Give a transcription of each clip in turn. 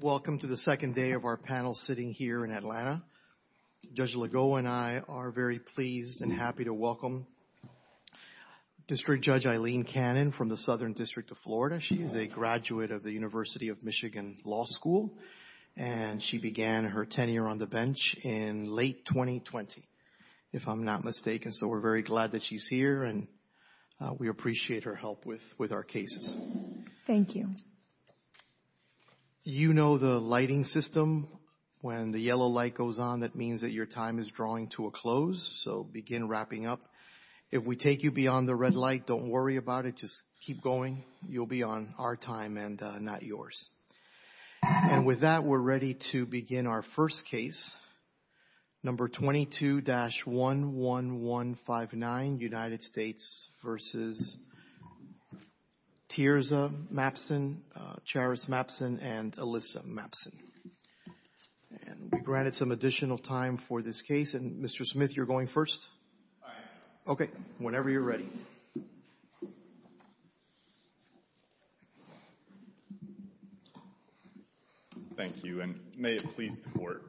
Welcome to the second day of our panel sitting here in Atlanta. Judge Legault and I are very pleased and happy to welcome District Judge Eileen Cannon from the Southern District of Florida. She is a graduate of the University of Michigan Law School and she began her tenure on the bench in late 2020, if I'm not mistaken. So we're very glad that she's here and we appreciate her help with our cases. Thank you. You know the lighting system. When the yellow light goes on, that means that your time is drawing to a close. So begin wrapping up. If we take you beyond the red light, don't worry about it. Just keep going. You'll be on our time and not yours. And with that, we're ready to begin our first case, number 22-11159, United States v. Tierza Mapson, Charis Mapson, and Alyssa Mapson. And we granted some additional time for this case. And Mr. Smith, you're going first. All right. Okay. Whenever you're ready. Thank you, and may it please the Court.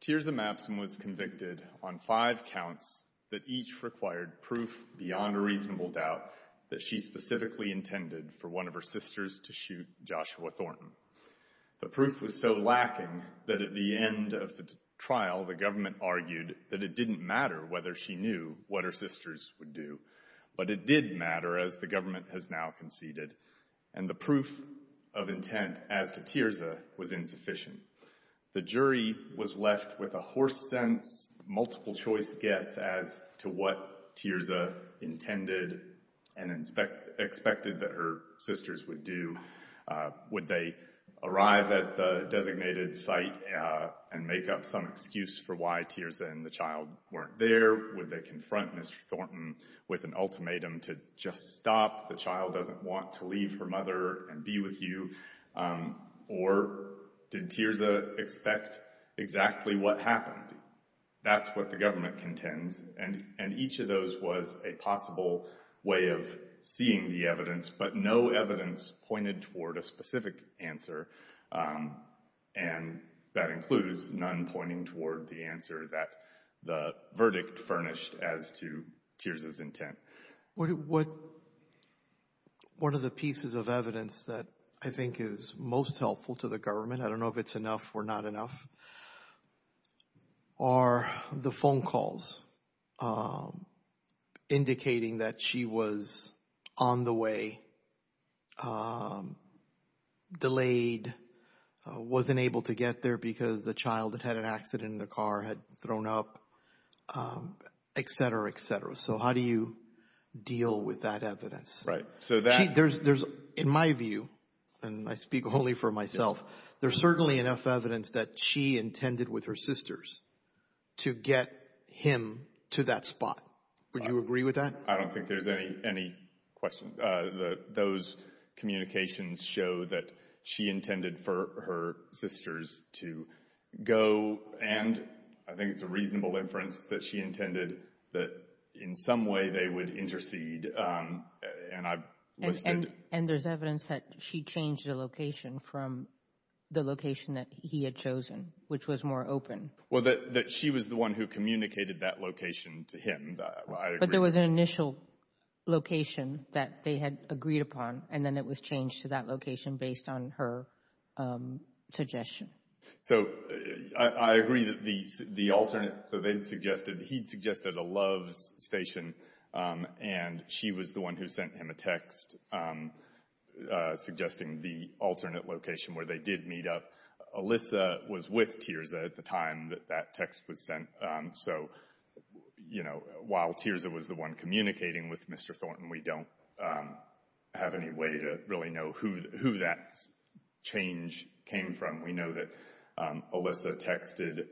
Tierza Mapson was convicted on five counts that each required proof beyond a reasonable doubt that she specifically intended for one of her sisters to shoot Joshua Thornton. The proof was so lacking that at the end of the trial, the jury was left with a horse-sense, multiple-choice guess as to what Tierza intended and expected that her sisters would do. Would they arrive at the designated site and make up some excuse for why Tierza and the child weren't there? Would they confront Mr. Thornton with an ultimatum to just stop? The child doesn't want to leave her mother and be with you. Or did Tierza expect exactly what happened? That's what the government contends. And each of those was a possible way of seeing the evidence, but no evidence pointed toward a specific answer, and that includes none pointing toward the answer that the verdict furnished as to Tierza's intent. One of the pieces of evidence that I think is most helpful to the government, I don't know if it's enough or not enough, are the phone calls indicating that she was on the way, delayed, wasn't able to get there because the child had had an accident, the car had thrown up, etc., etc. So how do you deal with that evidence? In my view, and I speak wholly for myself, there's certainly enough evidence that she intended with her sisters to get him to that spot. Would you agree with that? I don't think there's any question. Those communications show that she intended for her sisters to go, and I think it's a reasonable inference that she intended that in some way they would intercede, and I've listed And there's evidence that she changed the location from the location that he had chosen, which was more open. Well, that she was the one who communicated that location to him, I agree. But there was an initial location that they had agreed upon, and then it was changed to that location based on her suggestion. So I agree that the alternate, so they'd suggested, he'd suggested a Loves station, and she was the one who sent him a text suggesting the alternate location where they did meet up. Alyssa was with Tirza at the time that that text was sent, so, you know, while Tirza was the one communicating with Mr. Thornton, we don't have any way to really know who that change came from. We know that Alyssa texted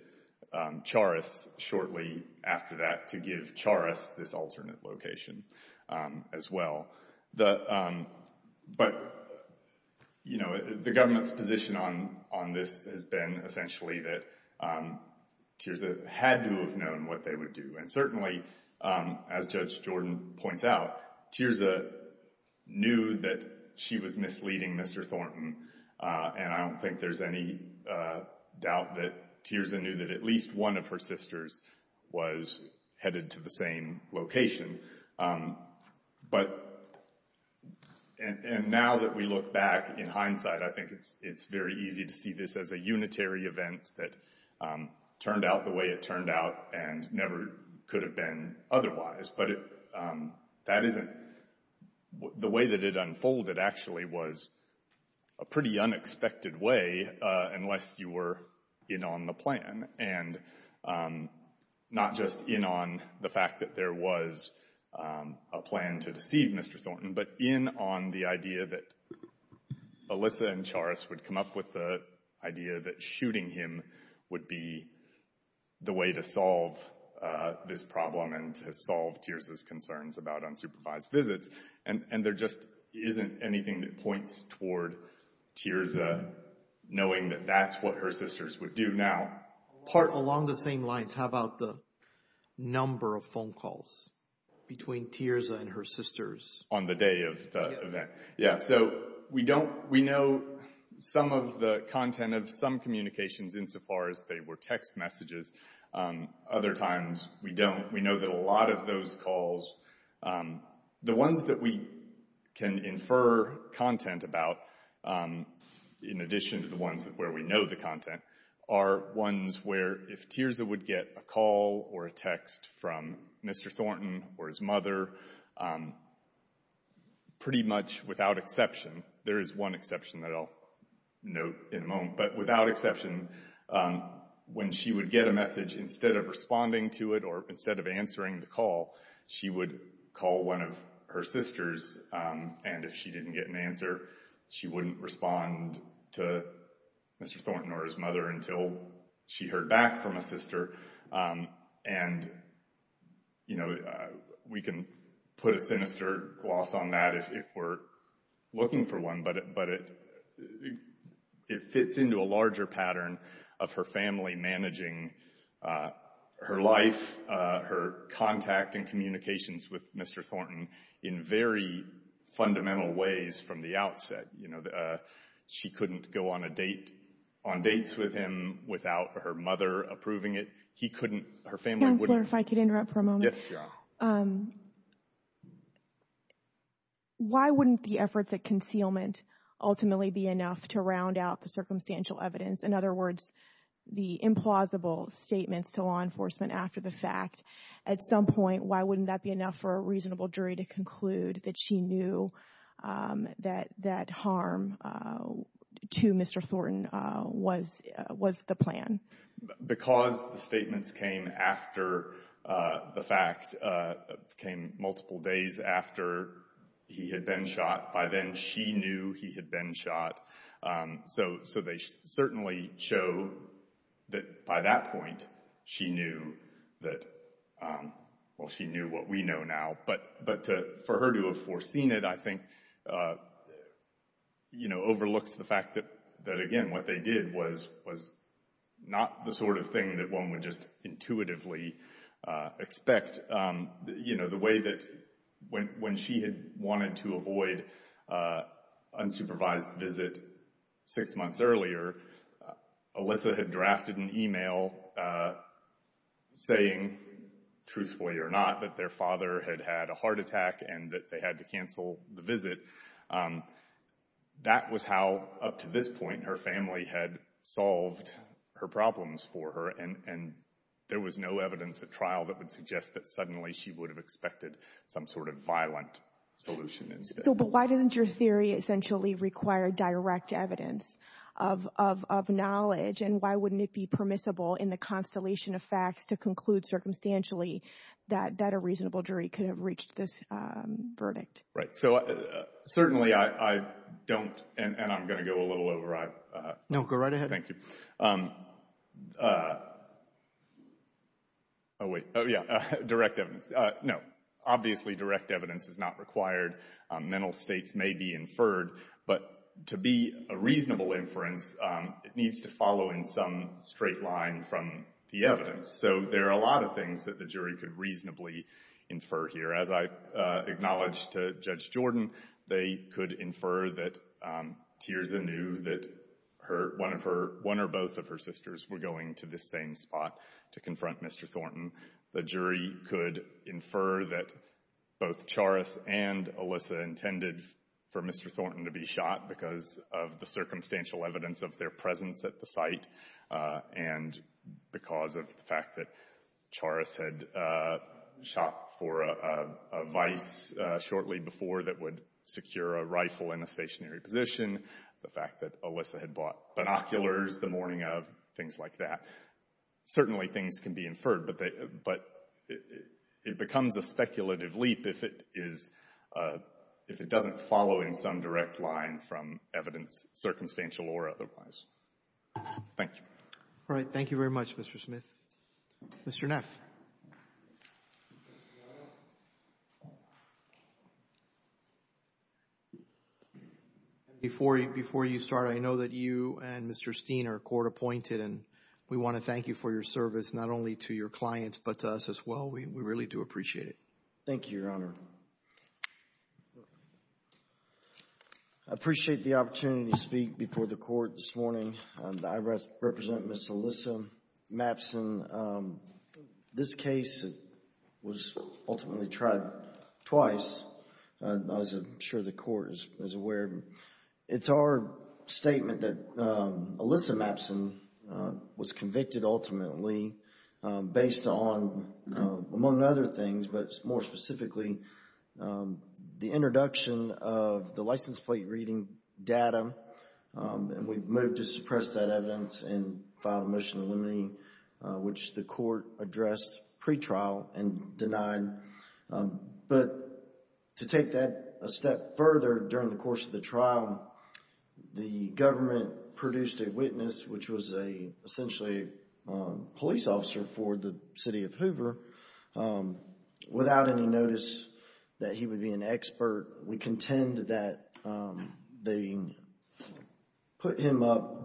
Charis shortly after that to give Charis this on this has been essentially that Tirza had to have known what they would do, and certainly, as Judge Jordan points out, Tirza knew that she was misleading Mr. Thornton, and I don't think there's any doubt that Tirza knew that at least one of her sisters was headed to the same location, but, and now that we look back in hindsight, I think it's very easy to see this as a unitary event that turned out the way it turned out and never could have been otherwise, but that isn't, the way that it unfolded actually was a pretty unexpected way unless you were in on the plan, and not just in on the fact that there was a plan to deceive Mr. Thornton, but in on the idea that Alyssa and Charis would come up with the idea that shooting him would be the way to solve this problem and to solve Tirza's concerns about unsupervised visits, and there just isn't anything that points toward Tirza knowing that that's what her sisters would do now. Part along the same lines, how about the number of phone calls between Tirza and her sisters? On the day of the event, yeah, so we don't, we know some of the content of some communications insofar as they were text messages. Other times we don't. We know that a lot of those calls, the ones that we can infer content about, in addition to the ones where we know the content, are ones where if Tirza would get a call or a text from Mr. Thornton or his mother, pretty much without exception, there is one exception that I'll note in a moment, but without exception, when she would get a message, instead of responding to it or instead of answering the call, she would call one of her sisters, and if she didn't get an answer, she wouldn't respond to Mr. Thornton or his mother until she heard back from a sister. And, you know, we can put a sinister gloss on that if we're looking for one, but it fits into a larger pattern of her family managing her life, her contact and communications with Mr. Thornton in very fundamental ways from the outset. You know, she couldn't go on dates with him without her mother approving it. He couldn't. Her family wouldn't. Counselor, if I could interrupt for a moment. Yes, you are. Why wouldn't the efforts at concealment ultimately be enough to round out the circumstantial evidence, in other words, the implausible statements to law enforcement after the fact? At some point, why wouldn't that be enough for a reasonable jury to conclude that she knew that harm to Mr. Thornton was the plan? Because the statements came after the fact, came multiple days after he had been shot. By then, she knew he had been shot. So they certainly show that by that point, she knew that, well, she knew what we know now. But for her to have foreseen it, I think, you know, overlooks the fact that, again, what they did was not the sort of thing that one would just intuitively expect. You know, the way that when she had wanted to avoid unsupervised visit six months earlier, Alyssa had drafted an email saying, truthfully or not, that their father had had a heart attack and that they had to cancel the visit. That was how, up to this point, her family had solved her problems for her. And there was no evidence at trial that would suggest that suddenly she would have expected some sort of violent solution instead. But why doesn't your theory essentially require direct evidence of knowledge? And why wouldn't it be permissible in the constellation of facts to conclude circumstantially that a reasonable jury could have reached this verdict? Right. So certainly I don't, and I'm going to go a little over. No, go right ahead. Thank you. Oh, wait. Oh, yeah. Direct evidence. No. Obviously, direct evidence is not required. Mental states may be inferred. But to be a reasonable inference, it needs to follow in some straight line from the evidence. So there are a lot of things that the jury could reasonably infer here. As I acknowledged to Judge Jordan, they could infer that Tiersa knew that one or both of her sisters were going to the same spot to confront Mr. Thornton. The jury could infer that both Charis and Alyssa intended for Mr. Thornton to be shot because of the circumstantial evidence of their presence at the site. And because of the fact that Charis had shot for a vice shortly before that would secure a rifle in a stationary position. The fact that Alyssa had bought binoculars the morning of. Things like that. Certainly things can be inferred. But it becomes a speculative leap if it is, if it doesn't follow in some direct line from evidence, circumstantial or otherwise. Thank you. All right. Thank you very much, Mr. Smith. Mr. Neff. Before you start, I know that you and Mr. Steen are court appointed and we want to thank you for your service, not only to your clients, but to us as well. We really do appreciate it. Thank you, Your Honor. I appreciate the opportunity to speak before the court this morning. I represent Ms. Alyssa Mappson. This case was ultimately tried twice. As I'm sure the court is aware, it's our statement that Alyssa Mappson was convicted ultimately based on, among other things, but more specifically, the introduction of the license plate reading data. And we've moved to suppress that evidence and file a motion eliminating, which the court addressed pre-trial and denied. But to take that a step further during the course of the trial, the government produced a witness, which was essentially a police officer for the city of Hoover without any notice that he would be an expert. We contend that they put him up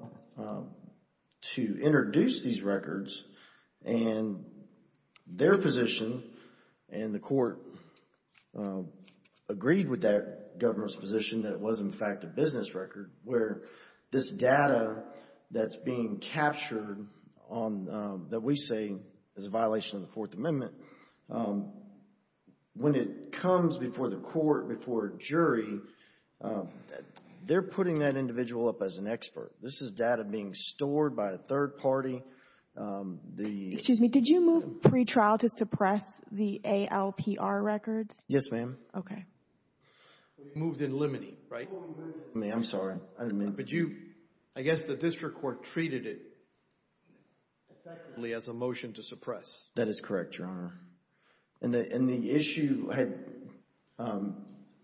to introduce these records and their position and the court agreed with that governor's position that it was, in fact, a business record where this data that's being captured that we say is a violation of the Fourth Amendment, when it comes before the court, before a jury, they're putting that individual up as an expert. This is data being stored by a third party. Excuse me, did you move pre-trial to suppress the ALPR records? Yes, ma'am. Okay. We moved in limiting, right? I'm sorry, I didn't mean... But you, I guess the district court treated it effectively as a motion to suppress. That is correct, Your Honor. And the issue had,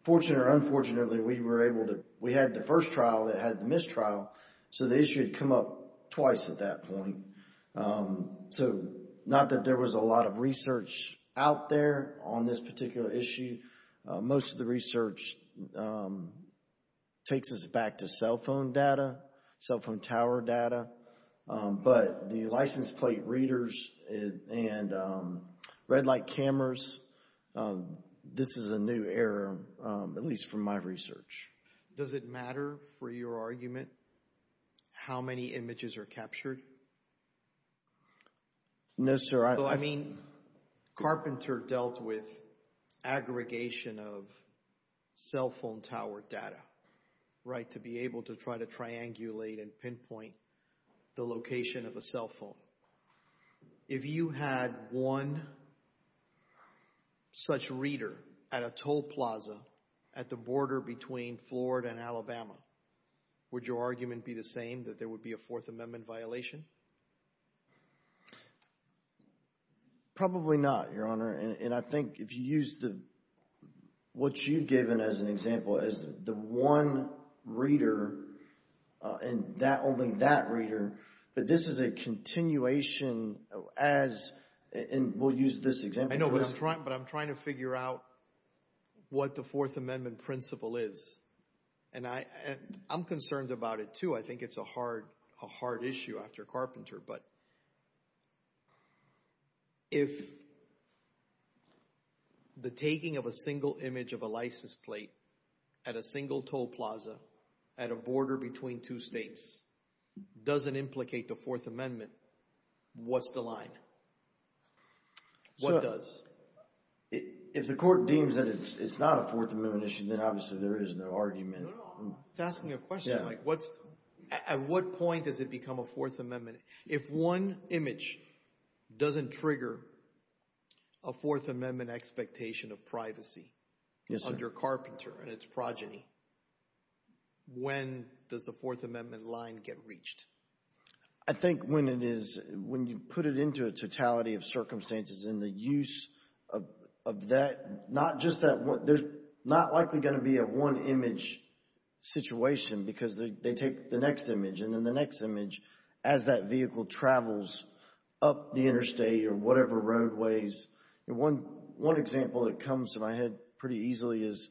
fortunate or unfortunately, we were able to, we had the first trial that had the mistrial, so the issue had come up twice at that point. So not that there was a lot of research out there on this particular issue. Most of the research takes us back to cell phone data, cell phone tower data, but the license plate readers and red light cameras, this is a new era, at least from my research. Does it matter for your argument how many images are captured? No, sir. I mean, Carpenter dealt with aggregation of cell phone tower data, right, to be able to try to triangulate and pinpoint the location of a cell phone. If you had one such reader at a toll plaza at the border between Florida and Alabama, would your argument be the same, that there would be a Fourth Amendment violation? Probably not, Your Honor, and I think if you use the, what you've given as an example, is the one reader and that, only that reader, but this is a continuation as, and we'll use this example. I know, but I'm trying to figure out what the Fourth Amendment principle is, and I'm concerned about it too. I think it's a hard issue after Carpenter, but if the taking of a single image of a license plate at a single toll plaza at a border between two states doesn't implicate the Fourth Amendment, what's the line? What does? If the court deems that it's not a Fourth Amendment issue, then obviously there is no argument. It's asking a question, like what's, at what point does it become a Fourth Amendment? If one image doesn't trigger a Fourth Amendment expectation of privacy under Carpenter and its progeny, when does the Fourth Amendment line get reached? I think when it is, when you put it into totality of circumstances and the use of that, not just that, there's not likely going to be a one image situation because they take the next image and then the next image as that vehicle travels up the interstate or whatever roadways. One example that comes to my head pretty easily is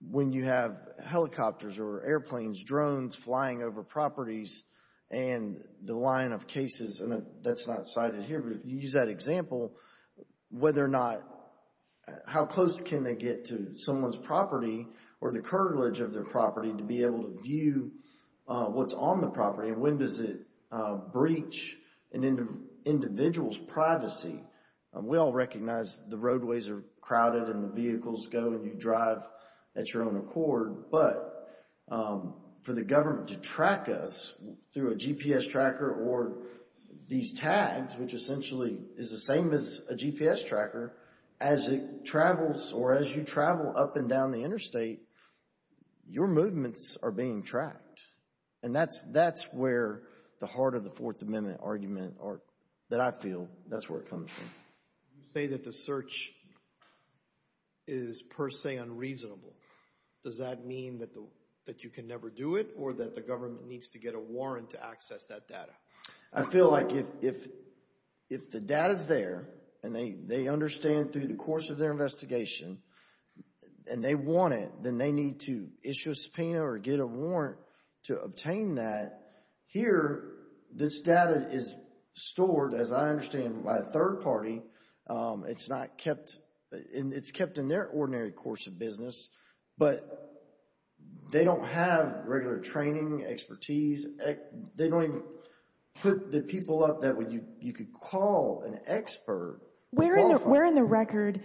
when you have helicopters or airplanes, drones flying over properties and the line of cases, that's not cited here, but you use that example, whether or not, how close can they get to someone's property or the cartilage of their property to be able to view what's on the property and when does it breach an individual's privacy? We all recognize the roadways are crowded and the vehicles go and you drive at your own accord, but for the government to track us through a GPS tracker or these tags, which essentially is the same as a GPS tracker, as it travels or as you travel up and down the interstate, your movements are being tracked and that's where the heart of the Fourth Amendment argument that I feel, that's where it comes from. You say that the search is per se unreasonable. Does that mean that you can never do it or that government needs to get a warrant to access that data? I feel like if the data's there and they understand through the course of their investigation and they want it, then they need to issue a subpoena or get a warrant to obtain that. Here, this data is stored, as I understand, by a third party. It's kept in their ordinary course of business, but they don't have regular training expertise. They don't even put the people up that you could call an expert. Where in the record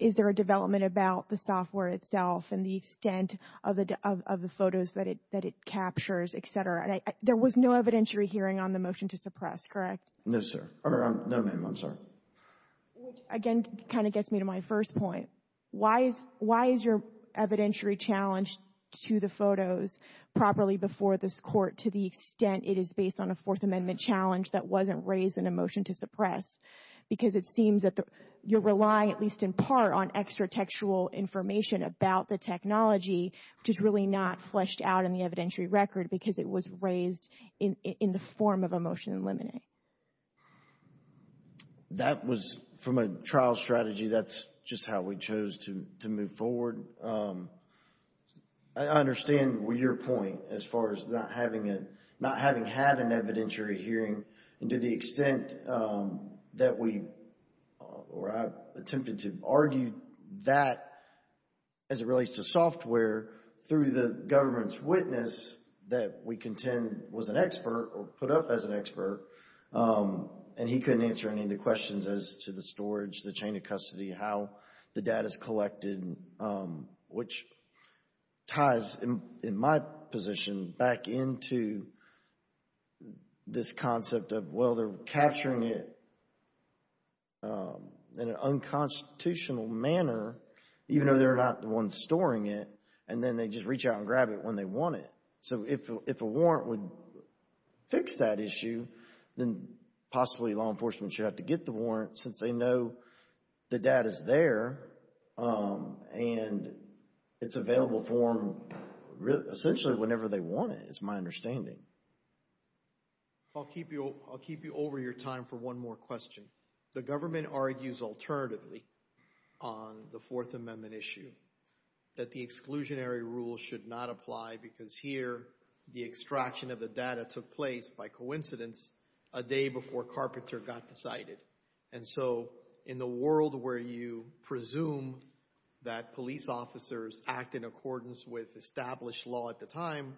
is there a development about the software itself and the extent of the photos that it captures, etc.? There was no evidentiary hearing on the motion to suppress, correct? No, sir. No, ma'am, I'm sorry. Which again, kind of gets me to my first point. Why is your evidentiary challenge to the photos properly before this court to the extent it is based on a Fourth Amendment challenge that wasn't raised in a motion to suppress? Because it seems that you're relying, at least in part, on extratextual information about the technology, which is really not fleshed out in the evidentiary record because it was raised in the form of a motion to eliminate. That was from a trial strategy. That's just how we chose to move forward. I understand your point as far as not having had an evidentiary hearing and to the extent that we attempted to argue that as it relates to software through the government's witness that we contend was an expert or put up as an expert, and he couldn't answer any of the questions as to the storage, the chain of custody, how the data is collected, which ties in my position back into this concept of, well, they're capturing it in an unconstitutional manner, even though they're not the ones storing it, and then they just reach out and grab it when they want it. So if a warrant would fix that issue, then possibly law enforcement should have to get the warrant since they know the data is there and it's available for them essentially whenever they want it, is my understanding. I'll keep you over your time for one more question. The government argues alternatively on the Fourth Amendment issue that the exclusionary rule should not apply because here the extraction of the data took place by coincidence a day before Carpenter got decided, and so in the world where you presume that police officers act in accordance with established law at the time,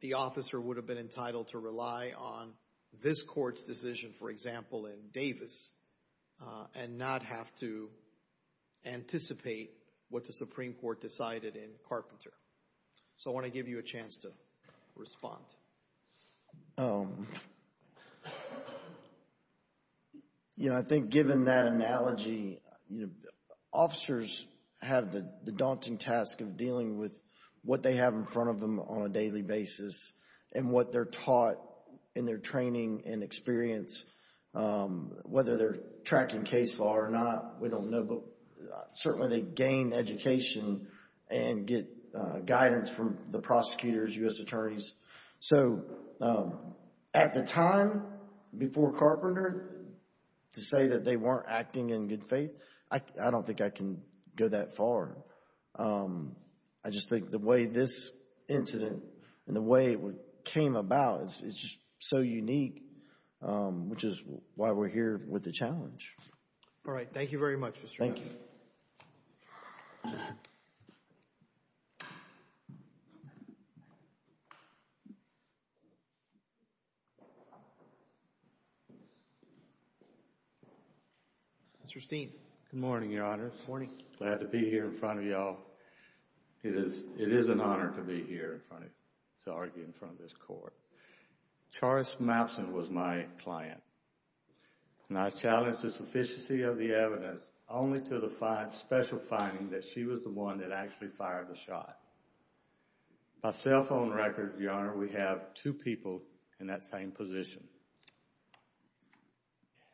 the officer would have been entitled to rely on this court's decision, for example, in Davis and not have to anticipate what the Supreme Court decided in Carpenter. So I want to give you a chance to respond. You know, I think given that analogy, you know, officers have the daunting task of dealing with what they have in front of them on a daily basis and what they're taught in their training and experience. Whether they're tracking case law or not, we don't know, but certainly they gain education and get guidance from the prosecutors, U.S. attorneys. So at the time before Carpenter to say that they weren't acting in good faith, I don't think I can go that far. I just think the way this incident and the way it came about is just so unique, which is why we're here with the challenge. All right. Thank you very much, Mr. Mapps. Thank you. Mr. Steen. Good morning, Your Honors. Good morning. Glad to be here in front of y'all. It is an honor to be here in front of you, to argue in front of this Court. Charis Mappson was my client, and I challenged the sufficiency of the evidence only to the special finding that she was the one that actually fired the shot. By cell phone records, Your Honor, we have two people in that same position.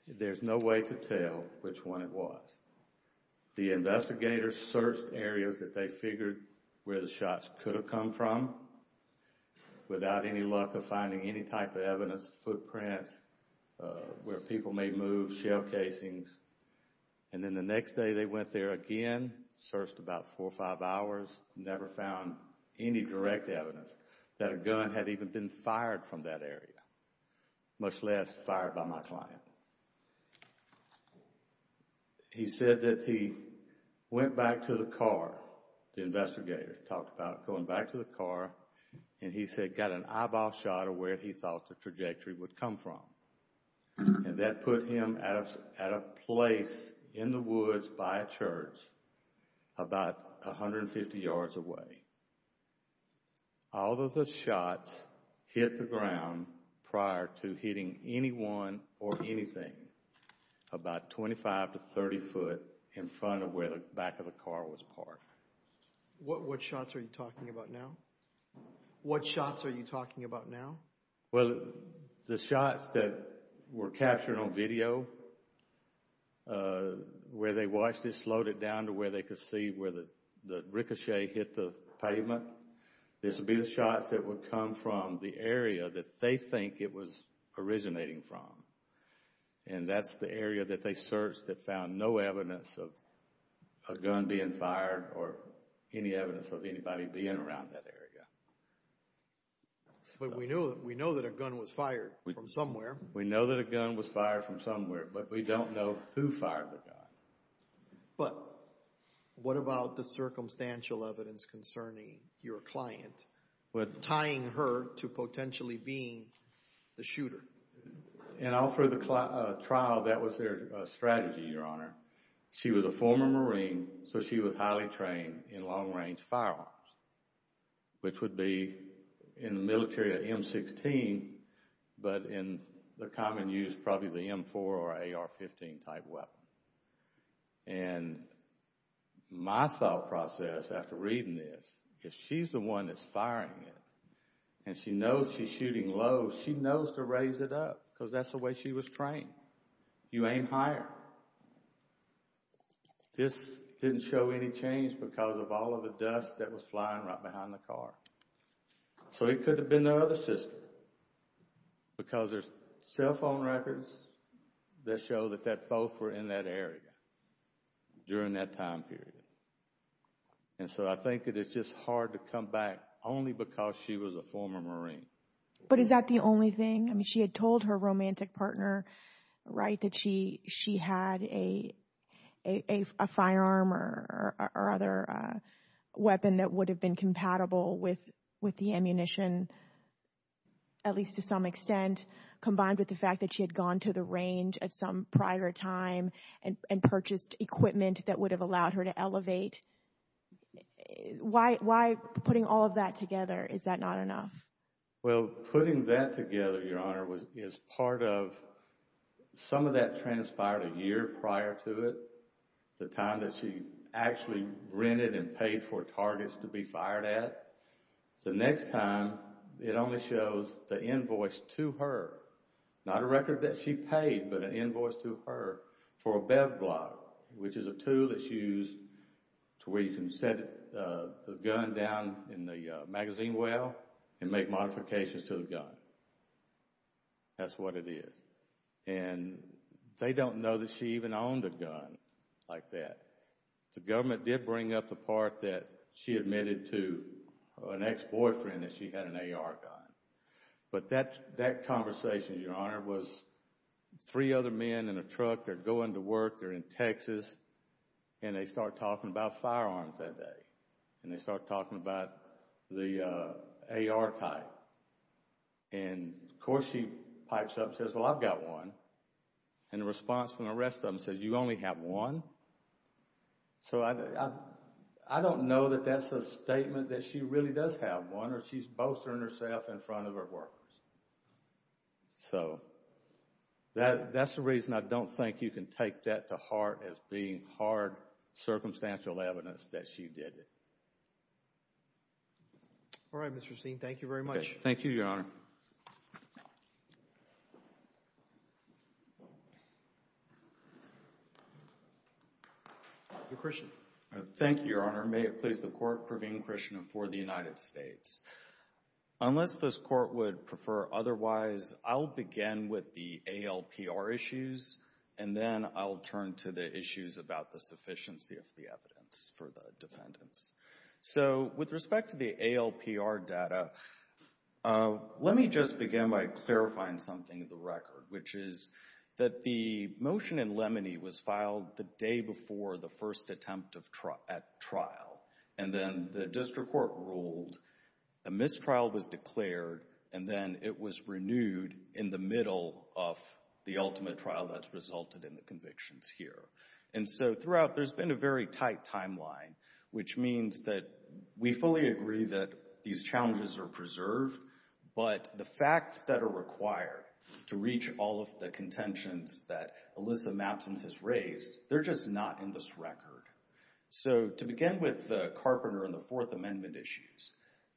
There's no way to tell which one it was. The investigators searched areas that they figured where the shots could have come from without any luck of finding any type of evidence, footprints, where people may move, shell casings. And then the next day they went there again, searched about four or five hours, never found any direct evidence that a gun had even been fired from that area, much less fired by my client. He said that he went back to the car, the investigators talked about going back to the car, and he said got an eyeball shot of where he thought the trajectory would come from. And that put him at a place in the woods by a church about 150 yards away. All of the shots hit the ground prior to hitting anyone or anything about 25 to 30 foot in front of where the back of the car was parked. What shots are you talking about now? What shots are you talking about now? Well, the shots that were captured on video, where they watched it, slowed it down to where they could see where the pavement, this would be the shots that would come from the area that they think it was originating from. And that's the area that they searched that found no evidence of a gun being fired or any evidence of anybody being around that area. But we know that a gun was fired from somewhere. We know that a gun was fired from somewhere, but we don't know who fired the gun. But what about the circumstantial evidence concerning your client, tying her to potentially being the shooter? And all through the trial, that was their strategy, Your Honor. She was a former Marine, so she was highly trained in long-range firearms, which would be in the military a M16, but in the common use probably the M4 or AR-15 type weapon. And my thought process after reading this is she's the one that's firing it, and she knows she's shooting low. She knows to raise it up, because that's the way she was trained. You aim higher. This didn't show any change because of all of the dust that was flying right behind the car. So it could have been no other sister, because there's cell phone records that show that both were in that area during that time period. And so I think that it's just hard to come back only because she was a former Marine. But is that the only thing? I mean, she had told her romantic partner, right, that she had a firearm or other weapon that would have been compatible with the ammunition, at least to some extent, combined with the fact that she had gone to the range at some prior time and purchased equipment that would have allowed her to elevate. Why putting all of that together? Is that not enough? Well, putting that together, Your Honor, is part of some of that transpired a year prior to it, the time that she actually rented and paid for targets to be fired at. So next time, it only shows the invoice to her, not a record that she paid, but an invoice to her for a BevBlock, which is a tool that's used to where you can set the gun down in the magazine well and make modifications to the gun. That's what it is. And they don't know that she even like that. The government did bring up the part that she admitted to an ex-boyfriend that she had an AR gun. But that conversation, Your Honor, was three other men in a truck, they're going to work, they're in Texas, and they start talking about firearms that day. And they start talking about the AR type. And of course, she pipes up and says, well, I've got one. And the response from the rest of them says, you only have one. So I don't know that that's a statement that she really does have one or she's boasting herself in front of her workers. So that's the reason I don't think you can take that to heart as being hard circumstantial evidence that she did it. All right, Mr. Steen, thank you very much. Thank you, Your Honor. Your Christian. Thank you, Your Honor. May it please the court, Praveen Krishnan for the United States. Unless this court would prefer otherwise, I'll begin with the ALPR issues and then I'll turn to the issues about the sufficiency of the evidence for the defendants. So with respect to the ALPR data, let me just begin by clarifying something in the record, which is that the motion in Lemony was filed the day before the first attempt at trial. And then the district court ruled, a mistrial was declared, and then it was renewed in the middle of the ultimate trial that's resulted in the convictions here. And so throughout, there's been a very tight timeline, which means that we fully agree that these challenges are preserved, but the facts that are required to reach all of the contentions that Alyssa Mappson has raised, they're just not in this record. So to begin with the Carpenter and the Fourth Amendment issues,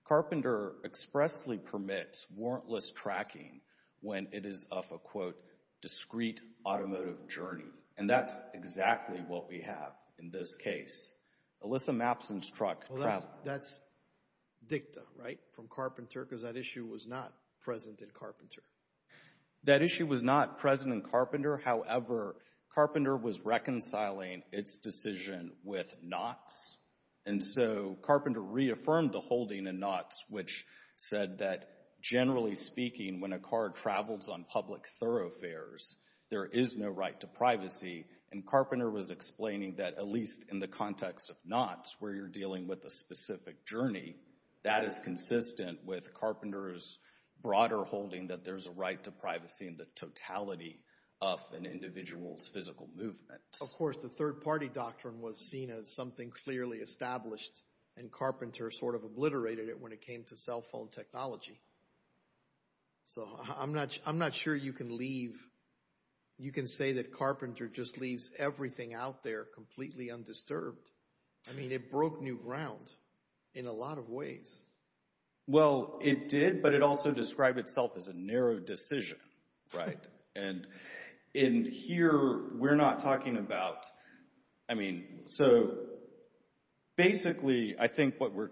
Carpenter expressly permits warrantless tracking when it is of a, quote, discrete automotive journey. And that's exactly what we have in this case. Alyssa Mappson's truck traveled. That's dicta, right, from Carpenter, because that issue was not present in Carpenter. That issue was not present in Carpenter. However, Carpenter was reconciling its decision with Knott's, and so Carpenter reaffirmed the holding in Knott's, which said that, generally speaking, when a car travels on public thoroughfares, there is no right to privacy. And Carpenter was explaining that, at least in the context of Knott's, where you're dealing with a specific journey, that is consistent with Carpenter's broader holding that there's a right to privacy in the totality of an individual's physical movement. Of course, the third-party doctrine was seen as something clearly established, and Carpenter sort of obliterated it when it came to cell phone technology. So I'm not sure you can leave, you can say that Carpenter just leaves everything out there completely undisturbed. I mean, it broke new ground in a lot of ways. Well, it did, but it also described itself as a narrow decision, right? And in here, we're not talking about, I mean, so basically, I think what we're,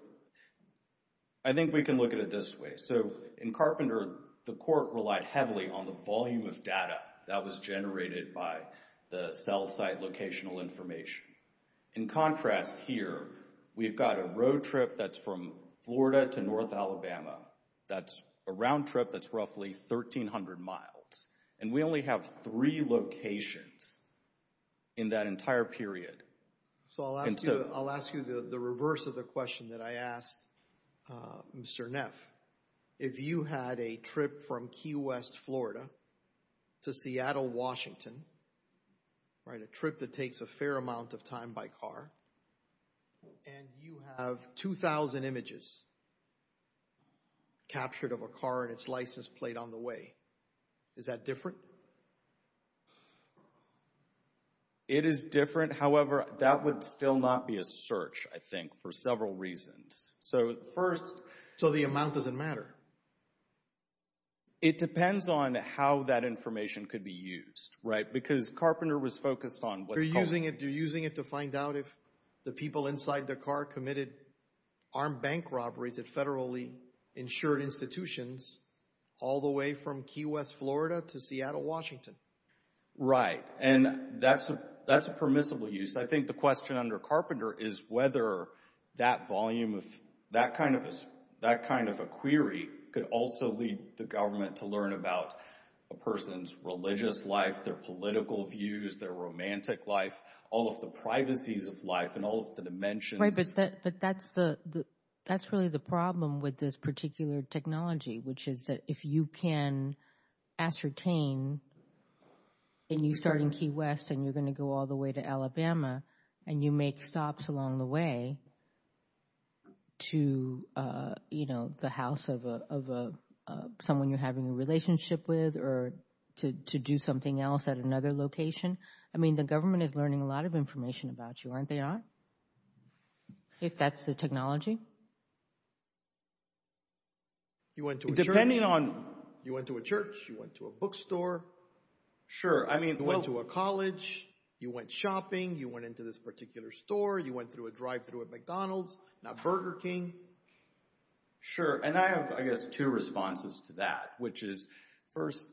I think we can look at it this way. So in Carpenter, the court relied heavily on the volume of data that was generated by the cell site locational information. In contrast, here, we've got a road trip that's from Florida to North Alabama, that's a round trip that's roughly 1,300 miles, and we only have three locations in that entire period. So I'll ask you the reverse of the question that I asked Mr. Neff. If you had a trip from Key West, Florida to Seattle, Washington, right, a trip that takes a fair amount of time by car, and you have 2,000 images captured of a car and its license plate on the way, is that different? It is different. However, that would still not be a search, I think, for several reasons. So first... So the amount doesn't matter? It depends on how that information could be used, right? Because Carpenter was focused on what... You're using it to find out if the people inside the car committed armed bank robberies at federally insured institutions all the way from Key West, Florida to Seattle, Washington. Right. And that's a permissible use. I think the question under Carpenter is whether that volume of... That kind of a query could also lead the government to learn about a person's religious life, their political views, their romantic life, all of the privacies of life and all of the dimensions. Right, but that's really the problem with this particular technology, which is that if you can ascertain, and you start in Key West, and you're going to go all the way to Alabama, and you make stops along the way to, you know, the house of someone you're having a relationship with or to do something else at another location, I mean, the government is learning a lot of information about you, aren't they? If that's the technology? You went to a church, you went to a bookstore. Sure, I mean... You went to a college, you went shopping, you went into this particular store, you went through a drive-thru at McDonald's, now Burger King. Sure, and I have, I guess, two responses to that, which is, first,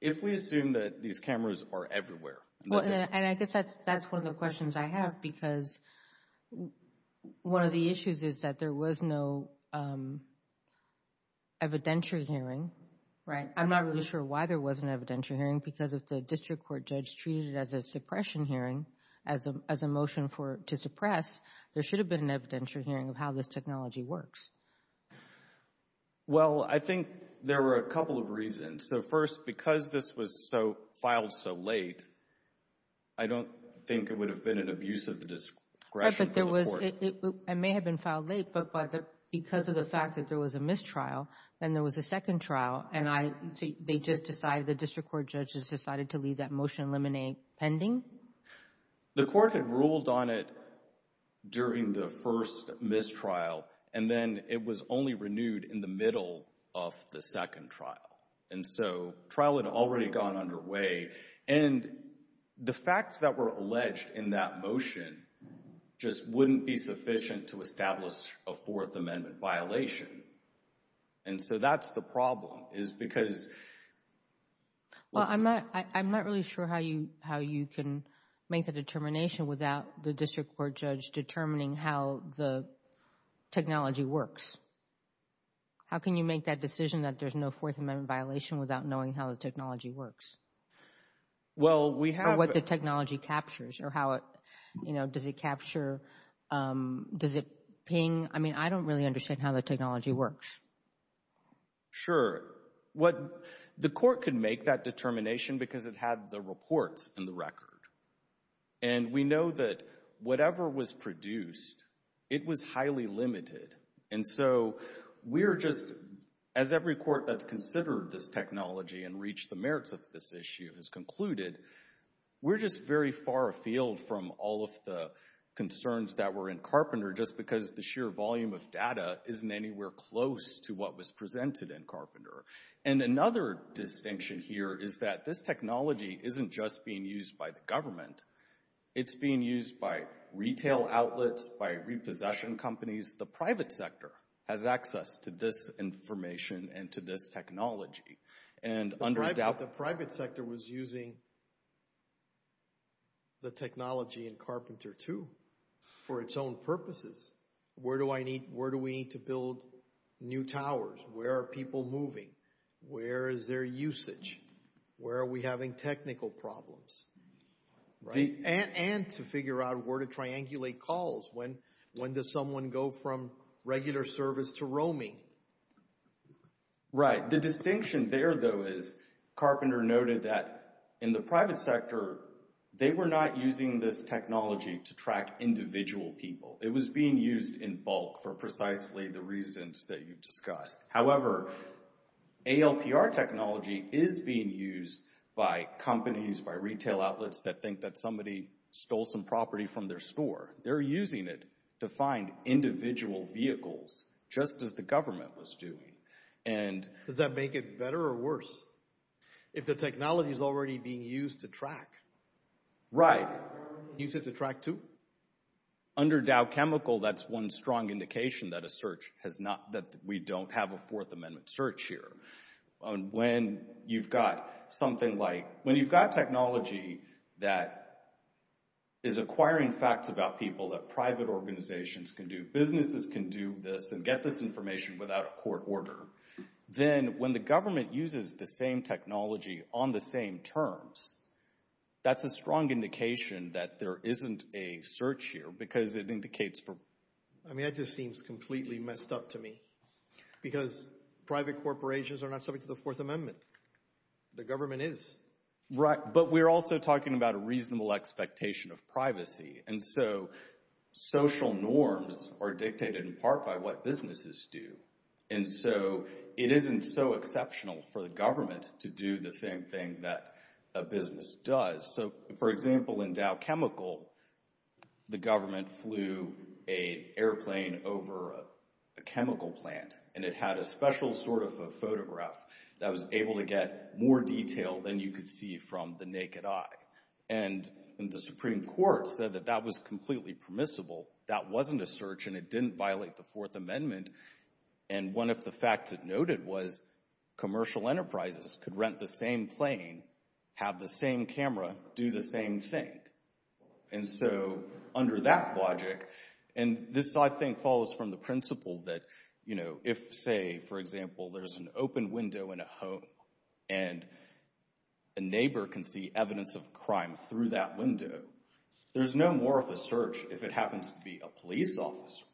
if we assume that these cameras are everywhere... Well, and I guess that's one of the questions I have because one of the issues is that there was no evidentiary hearing, right? I'm not really sure why there wasn't an evidentiary hearing because if the district court judge treated it as a suppression hearing, as a motion for, to suppress, there should have been an evidentiary hearing of how this technology works. Well, I think there were a couple of reasons. So, first, because this was so, filed so late, I don't think it would have been an abuse of the discretion for the court. It may have been filed late, but because of the fact that there was a mistrial, then there was a second trial, and they just decided, the district court judges, decided to leave that motion pending. The court had ruled on it during the first mistrial, and then it was only renewed in the middle of the second trial, and so trial had already gone underway, and the facts that were alleged in that motion just wouldn't be sufficient to establish a Fourth Amendment violation, and so that's the problem, is because... Well, I'm not, I'm not really sure how you, how you can make the determination without the district court judge determining how the technology works. How can you make that decision that there's no Fourth Amendment violation without knowing how the technology works? Well, we have... Or what the technology captures, or how it, you know, does it capture, does it ping? I mean, I don't really understand how the technology works. Sure. What, the court could make that determination because it had the reports in the record, and we know that whatever was produced, it was highly limited, and so we're just, as every court that's considered this technology and reached the merits of this issue has concluded, we're just very far afield from all of the concerns that were in Carpenter just because the sheer volume of data isn't anywhere close to what was presented in Carpenter, and another distinction here is that this technology isn't just being used by the government. It's being used by retail outlets, by repossession companies. The private sector has access to this information and to this technology, and under doubt... ...the technology in Carpenter, too, for its own purposes. Where do I need, where do we need to build new towers? Where are people moving? Where is their usage? Where are we having technical problems? Right? And to figure out where to triangulate calls. When does someone go from regular service to roaming? Right. The distinction there, though, is Carpenter noted that in the private sector, they were not using this technology to track individual people. It was being used in bulk for precisely the reasons that you've discussed. However, ALPR technology is being used by companies, by retail outlets that think that somebody stole some property from their store. They're using it to find individual vehicles, just as the government was doing, and... Does that make it better or worse? If the technology is already being used to track? Right. Use it to track, too? Under Dow Chemical, that's one strong indication that a search has not, that we don't have a Fourth Amendment search here. When you've got something like, when you've got technology that is acquiring facts about people that private organizations can do, businesses can do this, and get this information without a court order, then when the government uses the same technology on the same terms, that's a strong indication that there isn't a search here because it indicates... I mean, that just seems completely messed up to me because private corporations are not subject to the Fourth Amendment. The government is. Right. But we're also talking about a reasonable expectation of privacy. And so, social norms are dictated in part by what businesses do. And so, it isn't so exceptional for the government to do the same thing that a business does. So, for example, in Dow Chemical, the government flew an airplane over a chemical plant, and it had a special sort of a photograph that was able to get more detail than you could see from the naked eye. And the Supreme Court said that that was completely permissible. That wasn't a search, and it didn't violate the Fourth Amendment. And one of the facts it noted was commercial enterprises could rent the same plane, have the same camera, do the same thing. And so, under that logic... And this, I think, follows from the principle that, you know, if, say, for example, there's an open window in a home, and a neighbor can see evidence of crime through that window, there's no more of a search if it happens to be a police officer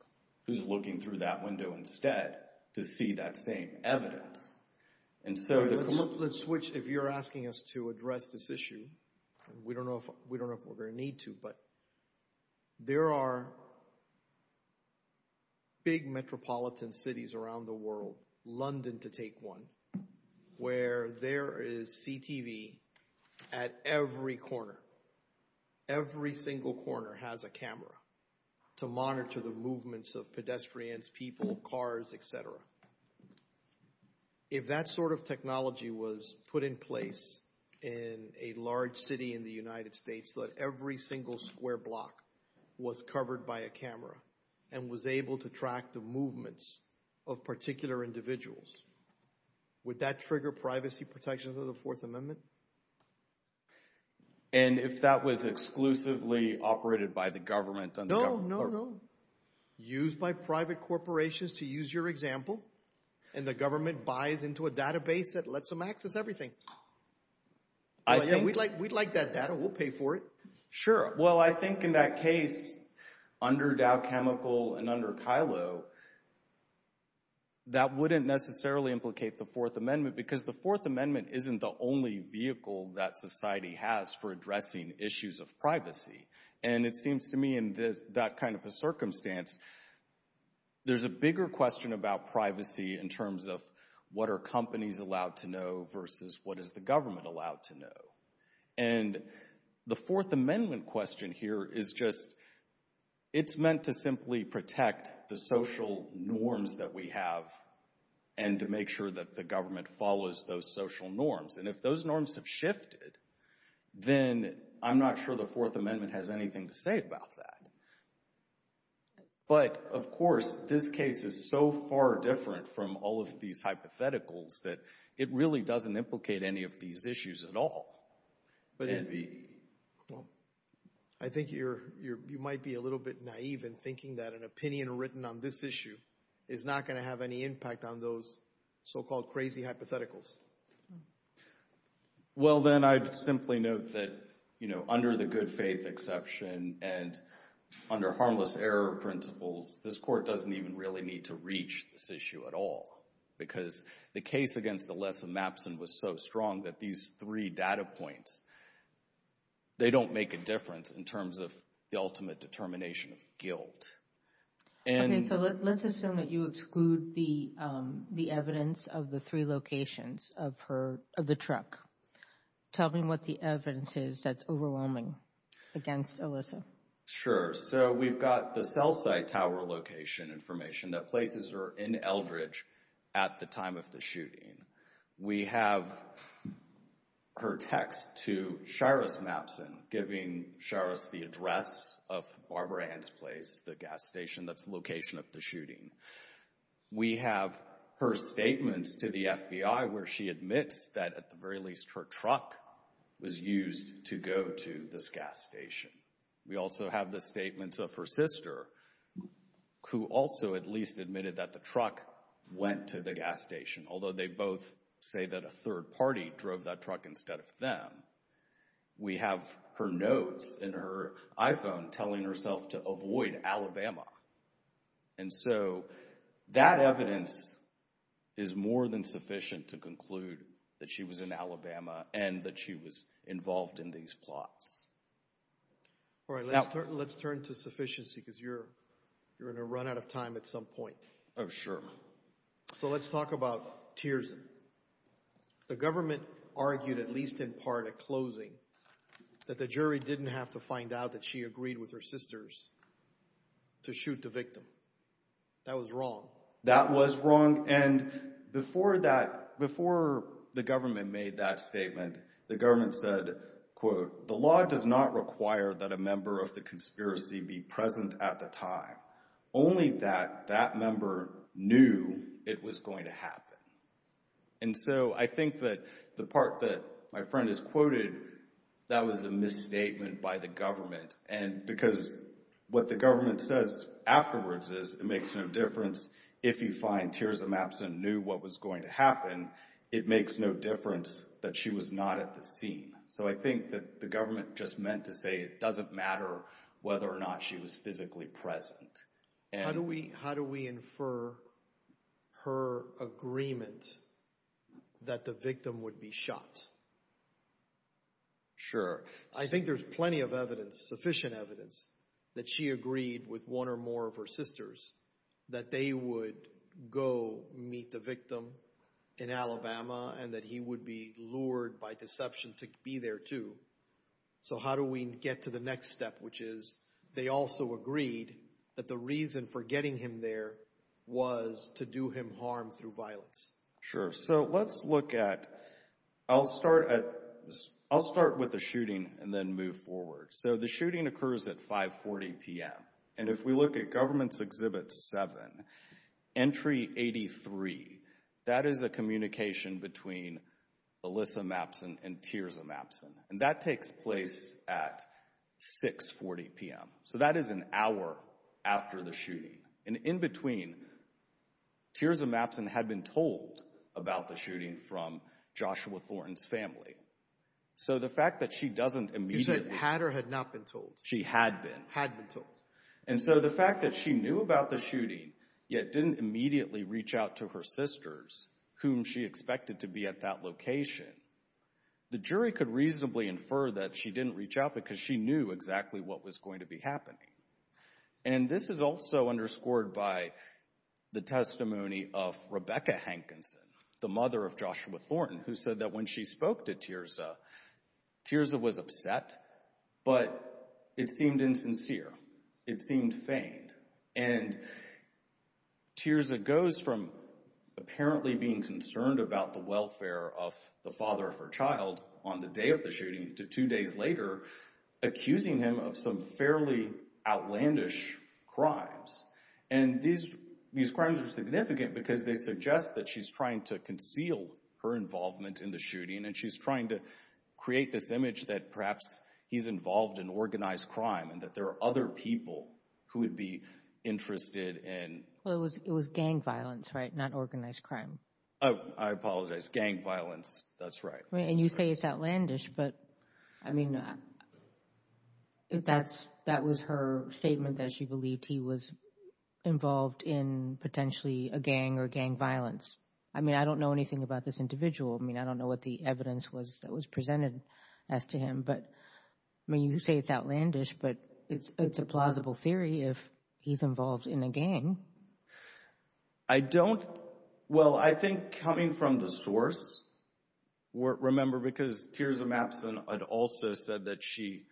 who's looking through that window instead to see that same evidence. And so... Let's switch. If you're asking us to address this issue, we don't know if we're going to need to, but there are big metropolitan cities around the world, London to take one, where there is CTV at every corner. Every single corner has a camera to monitor the movements of pedestrians, people, cars, etc. If that sort of technology was put in place in a large city in the United States, let every single square block was covered by a camera, and was able to track the movements of particular individuals, would that trigger privacy protections of the Fourth Amendment? And if that was exclusively operated by the government? No, no, no. Used by private corporations, to use your example, and the government buys into a database that lets them access everything. We'd like that data. We'll pay for it. Sure. Well, I think in that case, under Dow Chemical and under Kylo, that wouldn't necessarily implicate the Fourth Amendment, because the Fourth Amendment isn't the only vehicle that society has for addressing issues of privacy. And it seems to me in that kind of a circumstance, there's a bigger question about privacy in terms of what are companies allowed to know versus what is the government allowed to know. And the Fourth Amendment question here is just, it's meant to simply protect the social norms that we have, and to make sure that the government follows those social norms. And if those norms have shifted, then I'm not sure the government is going to be able to do anything about it. But of course, this case is so far different from all of these hypotheticals that it really doesn't implicate any of these issues at all. I think you might be a little bit naive in thinking that an opinion written on this issue is not going to have any impact on those so-called crazy hypotheticals. Well, then I'd simply note that, you know, under the good faith exception and under harmless error principles, this Court doesn't even really need to reach this issue at all. Because the case against Alessa Mappson was so strong that these three data points, they don't make a difference in terms of the ultimate determination of guilt. Okay, so let's assume that you exclude the truck. Tell me what the evidence is that's overwhelming against Alessa. Sure. So we've got the cell site tower location information that places her in Eldridge at the time of the shooting. We have her text to Sharos Mappson giving Sharos the address of Barbara Ann's place, the gas station that's the location of the shooting. We have her statements to the FBI where she admits that at the very least her truck was used to go to this gas station. We also have the statements of her sister who also at least admitted that the truck went to the gas station, although they both say that a third party drove that truck instead of them. We have her notes in that she was in Alabama and that she was involved in these plots. All right, let's turn to sufficiency because you're in a run out of time at some point. Oh, sure. So let's talk about Tierzan. The government argued at least in part at closing that the jury didn't have to find out that she agreed with her sisters to shoot the victim. That was wrong. That was wrong. And before that, before the government made that statement, the government said, quote, the law does not require that a member of the conspiracy be present at the time. Only that that member knew it was going to happen. And so I think that the part that my friend is quoted, that was a misstatement by the government. And because what the government says afterwards is it makes no difference if you find tiers of maps and knew what was going to happen. It makes no difference that she was not at the scene. So I think that the government just meant to say it doesn't matter whether or not she was physically present. How do we how do we infer her agreement that the victim would be shot? Sure. I think there's plenty of evidence, sufficient evidence that she agreed with one or more of her sisters that they would go meet the victim in Alabama and that he would be lured by deception to be there too. So how do we get to the next step, which is they also agreed that the reason for the shooting was to do him harm through violence? Sure. So let's look at, I'll start at, I'll start with the shooting and then move forward. So the shooting occurs at 5 40 p.m. And if we look at government's exhibit 7, entry 83, that is a communication between Elissa Mappson and Tiers of Mappson. And that takes place at 6 40 p.m. So that is an hour after the shooting. And in between, Tiers of Mappson had been told about the shooting from Joshua Thornton's family. So the fact that she doesn't immediately... You said had or had not been told? She had been. Had been told. And so the fact that she knew about the shooting, yet didn't immediately reach out to her sisters whom she expected to be at that location, the jury could reasonably infer that she didn't reach out because she knew exactly what was going to be happening. And this is also underscored by the testimony of Rebecca Hankinson, the mother of Joshua Thornton, who said that when she spoke to Tiersa, Tiersa was upset, but it seemed insincere. It seemed feigned. And Tiersa goes from apparently being concerned about the welfare of the father of her child on the day of the shooting to two days later accusing him of some fairly outlandish crimes. And these crimes are significant because they suggest that she's trying to conceal her involvement in the shooting and she's trying to create this image that perhaps he's involved in organized crime and that there are other people who would be interested in... Gang violence, that's right. And you say it's outlandish, but I mean, that was her statement that she believed he was involved in potentially a gang or gang violence. I mean, I don't know anything about this individual. I mean, I don't know what the evidence was that was presented as to him, but I mean, you say it's outlandish, but it's a plausible theory if he's involved in a gang. I don't, well, I think coming from the source, remember because Tiersa Mappson had also said that she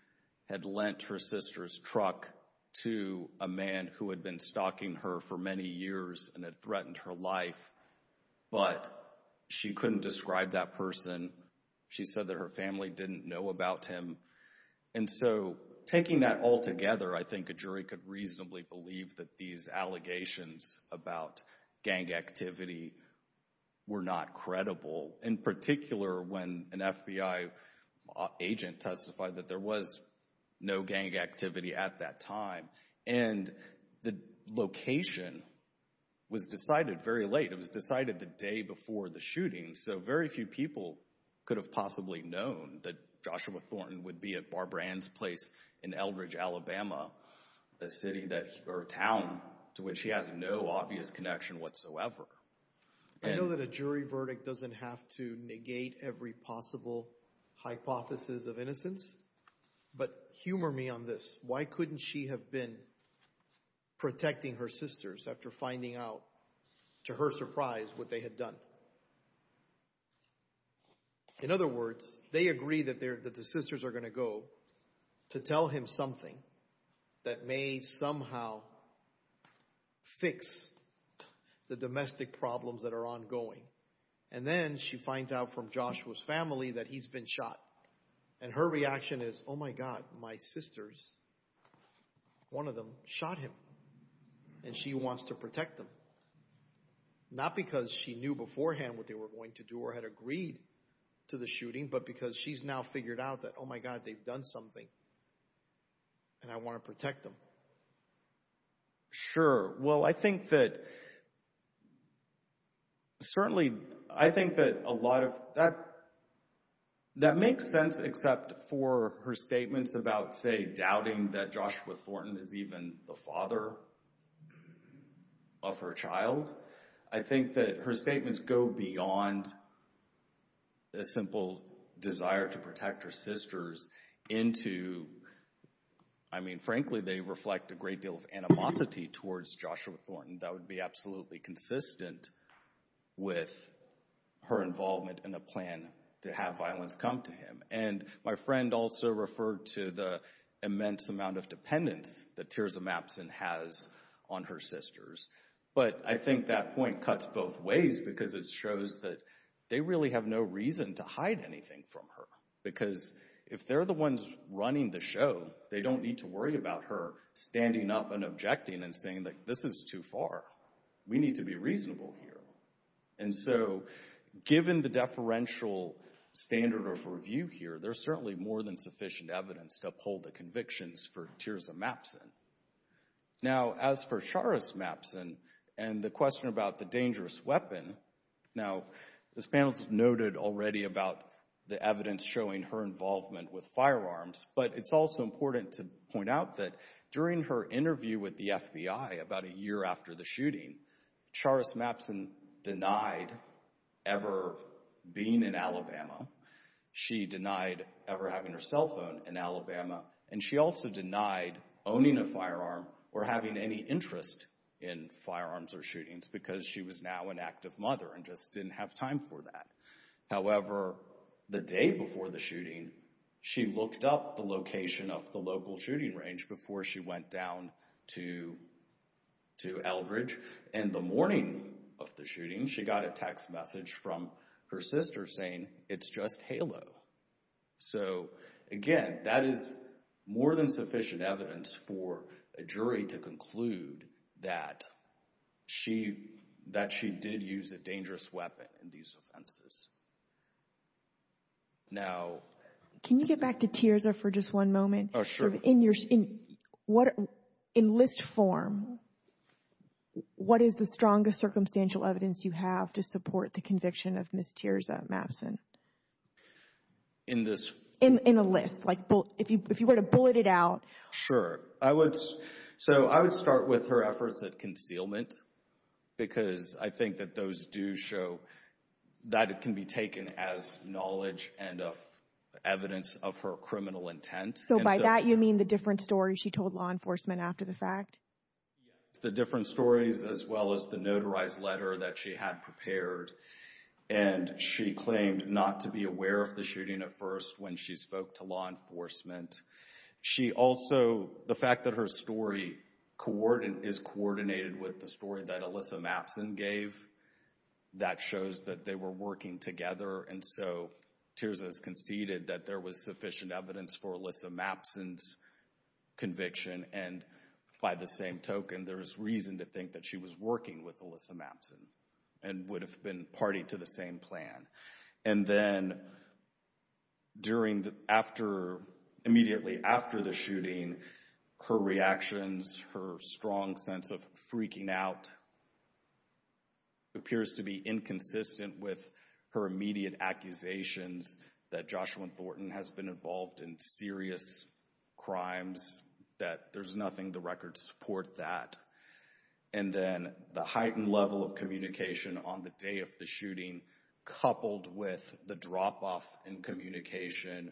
had lent her sister's truck to a man who had been stalking her for many years and had threatened her life, but she couldn't describe that person. She said that her family didn't know about him. And so, taking that all together, I think a jury could reasonably believe that these allegations about gang activity were not credible, in particular when an FBI agent testified that there was no gang activity at that time and the location was decided very late. It was decided the day before the shooting, so very few people could have possibly known that Joshua Thornton would be at Barbara Ann's place in Eldridge, Alabama, a city or town to which he has no obvious connection whatsoever. I know that a jury verdict doesn't have to negate every possible hypothesis of innocence, but humor me on this. Why couldn't she have been protecting her sisters after finding out, to her surprise, what they had done? In other words, they agree that the sisters are going to go to tell him something that may somehow fix the domestic problems that are ongoing, and then she finds out from Joshua's family that he's been shot, and her reaction is, oh my God, my sisters, one of them shot him, and she wants to protect them. Not because she knew beforehand what they were going to do or had agreed to the shooting, but because she's now figured out that, oh my God, they've done something and I want to protect them. Sure. Well, I think that certainly, I think that a lot of that, that makes sense except for her statements about, say, the father of her child. I think that her statements go beyond a simple desire to protect her sisters into, I mean, frankly, they reflect a great deal of animosity towards Joshua Thornton. That would be absolutely consistent with her involvement in a plan to have violence come to him, and my friend also referred to the immense amount of dependence that Tears of Mapsen has on her sisters, but I think that point cuts both ways because it shows that they really have no reason to hide anything from her, because if they're the ones running the show, they don't need to worry about her standing up and objecting and saying that this is too far. We need to be reasonable here, and so given the deferential standard of review here, there's certainly more than sufficient evidence to uphold the convictions for Tears of Mapsen. Now, as for Charis Mapsen and the question about the dangerous weapon, now, this panel's noted already about the evidence showing her involvement with firearms, but it's also important to point out that during her interview with the FBI, she denied ever being in Alabama. She denied ever having her cell phone in Alabama, and she also denied owning a firearm or having any interest in firearms or shootings because she was now an active mother and just didn't have time for that. However, the day before the shooting, she looked up the location of the local shooting range before she went down to Eldridge, and the morning of the shooting, she got a text message from her sister saying, it's just Halo. So, again, that is more than sufficient evidence for a jury to conclude that she did use a dangerous weapon in these offenses. Now, can you get back to Tears for just one moment? Oh, sure. In list form, what is the strongest circumstantial evidence you have to support the conviction of Miss Tears of Mapsen? In this? In a list, like, if you were to bullet it out. Sure, I would start with her efforts at concealment because I think that those do show that it can be taken as knowledge and evidence of her criminal intent. So, by that, you mean the different stories she told law enforcement? Yes, the different stories as well as the notarized letter that she had prepared, and she claimed not to be aware of the shooting at first when she spoke to law enforcement. She also, the fact that her story is coordinated with the story that Alyssa Mapsen gave, that shows that they were working together, and so Tears has conceded that there was sufficient evidence for Alyssa Mapsen's conviction, and by the same token, there's reason to think that she was working with Alyssa Mapsen and would have been party to the same plan. And then during the, after, immediately after the shooting, her reactions, her strong sense of freaking out appears to be inconsistent with her immediate accusations that Joshua Thornton has been involved in serious crimes, that there's nothing the records support that. And then the heightened level of communication on the day of the shooting, coupled with the drop-off in communication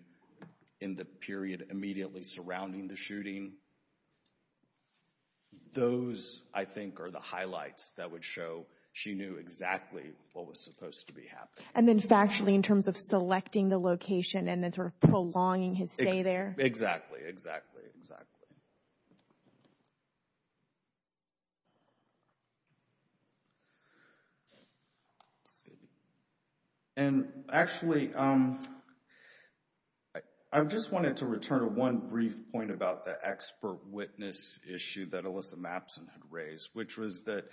those, I think, are the highlights that would show she knew exactly what was supposed to be happening. And then factually, in terms of selecting the location and then sort of prolonging his stay there? Exactly, exactly, exactly. And actually, I just wanted to return to one brief point about the expert witness issue that Alyssa Mapsen had raised, which was that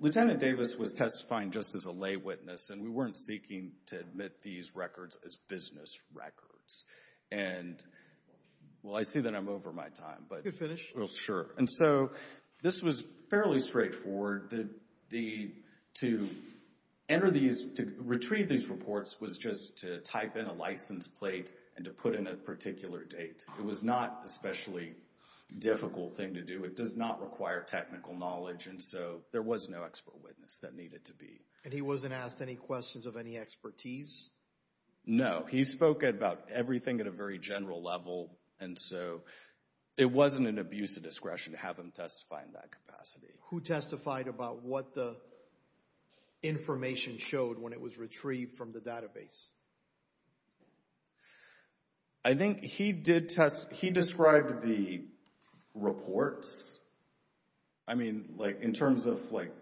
Lieutenant Davis was testifying just as a lay witness, and we weren't seeking to admit these records as business records. And, well, I see that I'm over my time, but... You can finish. Sure. And so this was fairly straightforward. To enter these, to retrieve these reports, was just to type in a license plate and to put in a particular date. It was not an especially difficult thing to do. It does not require technical knowledge, and so there was no expert witness that needed to be. And he wasn't asked any questions of any expertise? No. He spoke about everything at a very general level, and so it wasn't an abuse of discretion to have him testify in that capacity. Who testified about what the data was retrieved from the database? I think he did test, he described the reports. I mean, like, in terms of, like,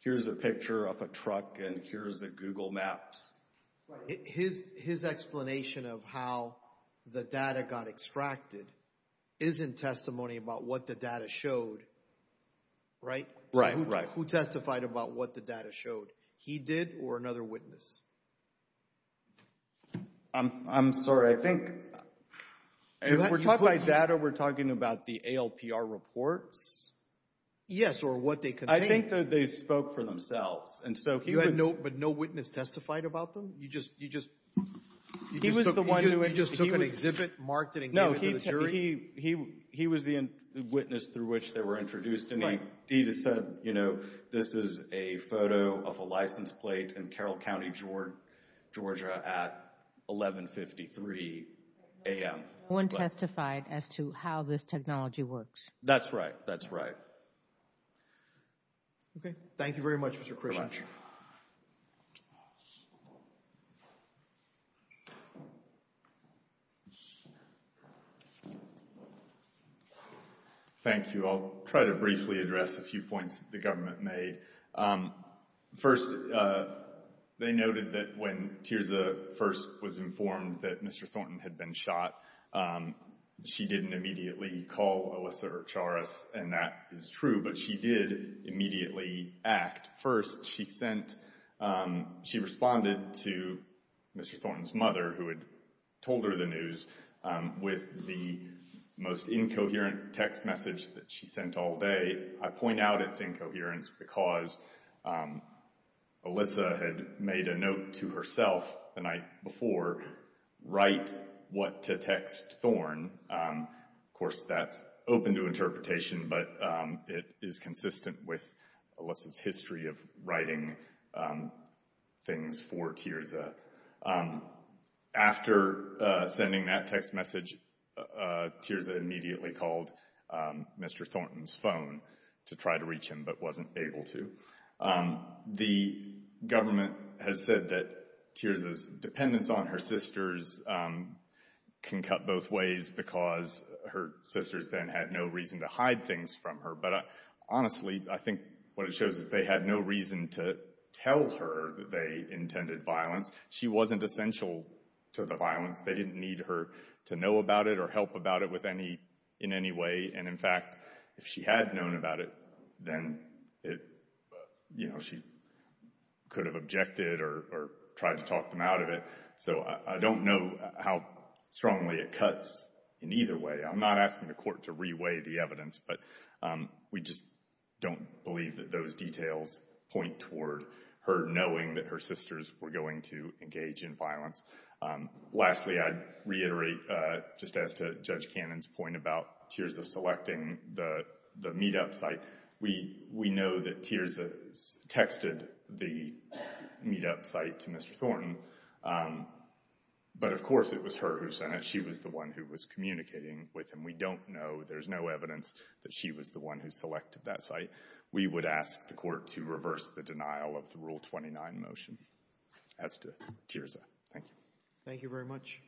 here's a picture of a truck and here's the Google Maps. His explanation of how the data got extracted isn't testimony about what the data showed, right? Right, right. Who testified about what the data showed? He did, or another witness? I'm sorry, I think... If we're talking about data, we're talking about the ALPR reports? Yes, or what they contained. I think that they spoke for themselves, and so... You had no, but no witness testified about them? You just, you just... He was the one who... You just took an exhibit, marked it, and gave it to the jury? He was the witness through which they were introduced, and he just said, you know, this is a photo of a license plate in Carroll County, Georgia, at 1153 a.m. No one testified as to how this technology works? That's right, that's right. Okay, thank you very much, Mr. Krishnan. Thank you. Thank you. I'll try to briefly address a few points that the government made. First, they noted that when Tirza first was informed that Mr. Thornton had been shot, she didn't immediately call Alyssa Archares, and that is true, but she did immediately act. First, she sent, she responded to Mr. Thornton's mother, who had told her the news, with the most incoherent text message that she sent all day. I point out its incoherence because Alyssa had made a note to herself the night before, write what to text Thorne. Of course, that's open to interpretation, but it is consistent with Alyssa's history of writing things for Tirza. After sending that text message, Tirza immediately called Mr. Thornton's phone to try to reach him, but wasn't able to. The government has said that Tirza's dependence on her sisters can cut both ways because her sisters then had no reason to hide things from her, but honestly, I think what it shows is they had no reason to tell her that they intended violence. She wasn't essential to the violence. They didn't need her to know about it or help about it with any, in any way, and in fact, if she had known about it, then it, you know, she could have objected or tried to talk them out of it, so I don't know how strongly it cuts in either way. I'm not asking the court to reweigh the evidence, but we just don't believe that those details point toward her knowing that her sisters were going to engage in violence. Lastly, I'd reiterate, just as to Judge Cannon's point about Tirza selecting the meetup site, we know that Tirza texted the meetup site to Mr. Thornton, but of course, it was her who sent it. She was the one who was communicating with him. We don't know, there's no evidence that she was the one who selected that site. We would ask the court to reverse the denial of the Rule 29 motion as to Tirza. Thank you. Thank you very much.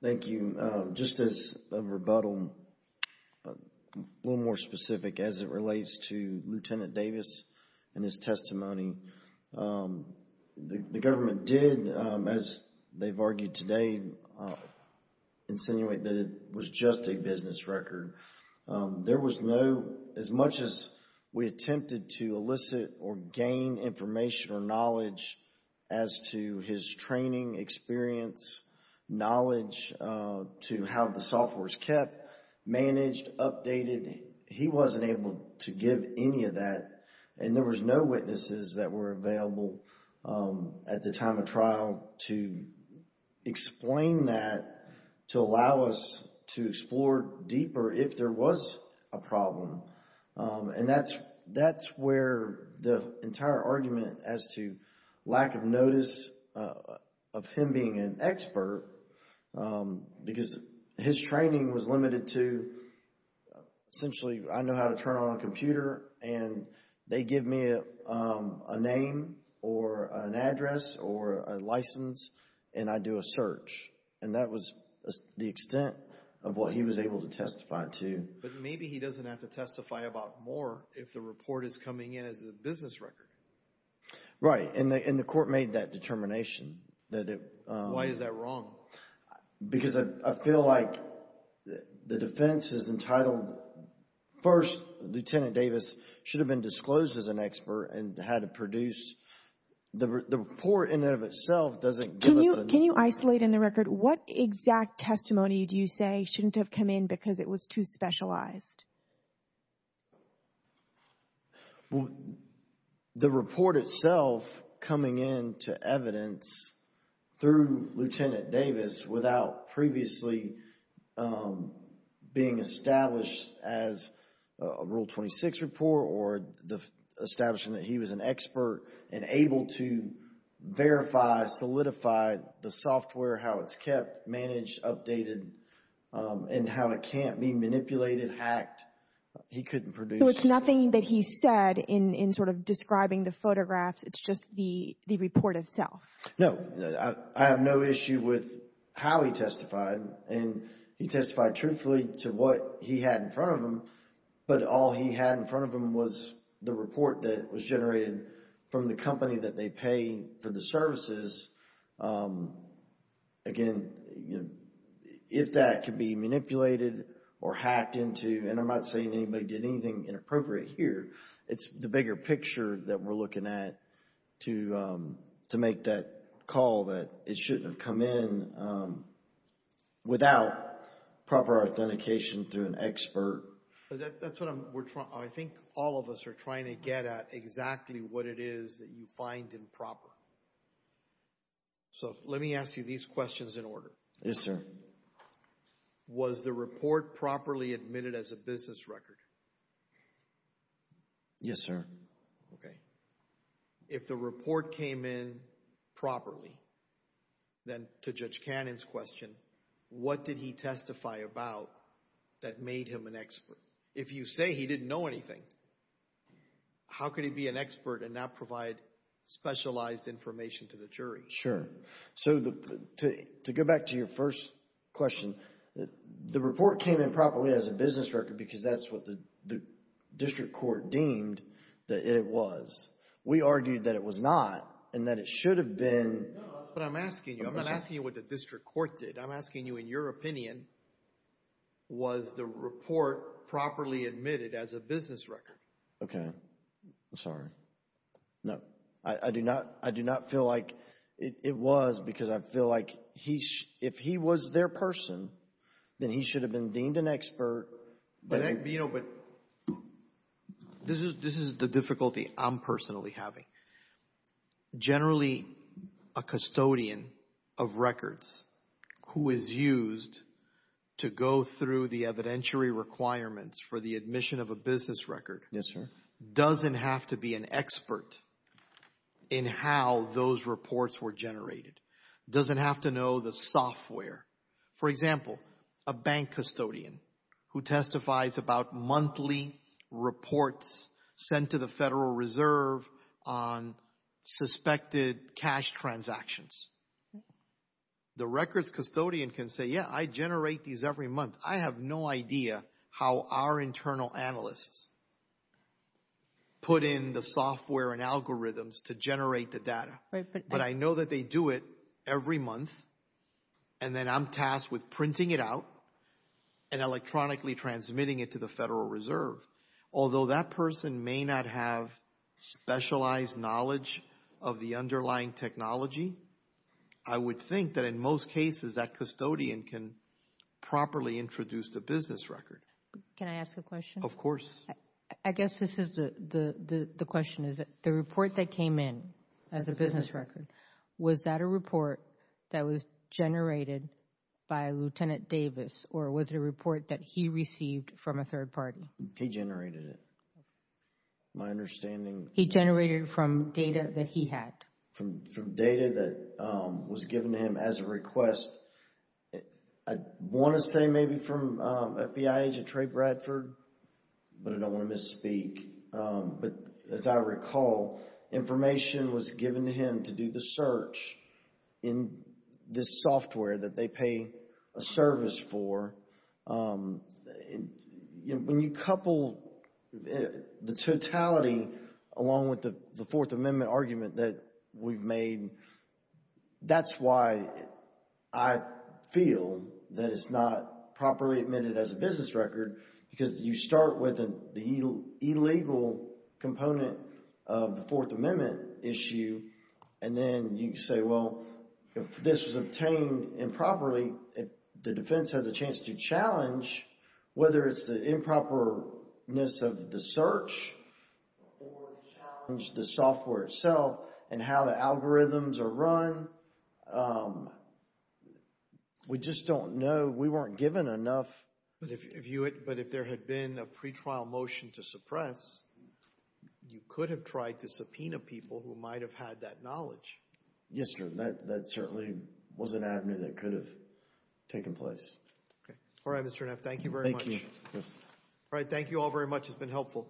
Thank you. Just as a rebuttal, a little more specific as it relates to Lieutenant Davis and his testimony, the government did, as they've argued today, insinuate that it was just a business record. There was no, as much as we attempted to elicit or gain information or knowledge as to his training, experience, knowledge to how the software's kept, managed, updated, he wasn't able to give any of that and there was no witnesses that were available at the time of trial to explain that, to allow us to explore deeper if there was a problem. And that's where the entire argument as to lack of notice of him being an expert, because his training was limited to, essentially, I know how to turn on a computer and they give me a name or an address or a license and I do a search. And that was the extent of what he was able to testify to. But maybe he doesn't have to testify about more if the report is coming in as a business record. Right, and the court made that determination. Why is that wrong? Because I feel like the defense is entitled, first, Lieutenant Davis should have been disclosed as an expert and had to produce, the report in and of itself doesn't give us enough. Can you isolate in the record, what exact testimony do you say shouldn't have come in because it was too specialized? The report itself coming in to evidence through Lieutenant Davis without previously being established as a Rule 26 report or the establishment that he was an expert and able to verify, solidify the software, how it's kept, managed, updated, and how it can't be manipulated, hacked. He couldn't produce. So it's nothing that he said in sort of describing the photographs. It's just the report itself. No, I have no issue with how he testified. And he testified truthfully to what he had in front of him. But all he had in front of him was the report that was generated from the company that they pay for the services. Again, if that could be manipulated or hacked into, and I'm not saying anybody did anything inappropriate here, it's the bigger picture that we're looking at to make that call that it shouldn't have come in without proper authentication through an expert. That's what I'm, we're trying, I think all of us are trying to get at exactly what it is that you find improper. So let me ask you these questions in order. Yes, sir. Was the report properly admitted as a business record? Yes, sir. Okay. If the report came in properly, then to Judge Cannon's question, what did he testify about that made him an expert? If you say he didn't know anything, how could he be an expert and not provide specialized information to the jury? Sure. So to go back to your first question, the report came in properly as a business record because that's what the district court deemed that it was. We argued that it was not and that it should have been. But I'm asking you, I'm not asking you what the district court did. I'm asking you in your opinion, was the report properly admitted as a business record? Okay. I'm sorry. No, I do not, I do not feel like it was because I feel like he, if he was their person, then he should have been deemed an expert. You know, but this is the difficulty I'm personally having. Generally, a custodian of records who is used to go through the evidentiary requirements for the admission of a business record doesn't have to be an expert in how those reports were generated, doesn't have to know the software. For example, a bank custodian who testifies about monthly reports sent to the Federal Reserve on suspected cash transactions. The records custodian can say, yeah, I generate these every month. I have no idea how our internal analysts put in the software and algorithms to generate the data. But I know that they do it every month and then I'm tasked with printing it out and electronically transmitting it to the Federal Reserve. Although that person may not have specialized knowledge of the underlying technology, I would think that in most cases that custodian can properly introduce the business record. Can I ask a question? Of course. I guess this is the, the question is, the report that came in as a business record, was that a report that was generated by Lieutenant Davis or was it a report that he received from a third party? He generated it. My understanding... He generated from data that he had. From data that was given to him as a request. I want to say maybe from FBI agent Trey Bradford, but I don't want to misspeak. But as I recall, information was given to him to do the search in this software that they pay a service for. When you couple the totality along with the Fourth Amendment argument that we've made, that's why I feel that it's not properly admitted as a business record because you start with the illegal component of the Fourth Amendment issue and then you say, well, if this was obtained improperly, if the defense has a chance to challenge, whether it's the improperness of the search or challenge the software itself and how the algorithms are run, we just don't know. We weren't given enough. But if there had been a pretrial motion to suppress, you could have tried to subpoena people who might have had that knowledge. Yes, sir. That certainly was an avenue that could have taken place. All right, Mr. Neff. Thank you very much. Thank you, yes. All right. Thank you all very much. It's been helpful.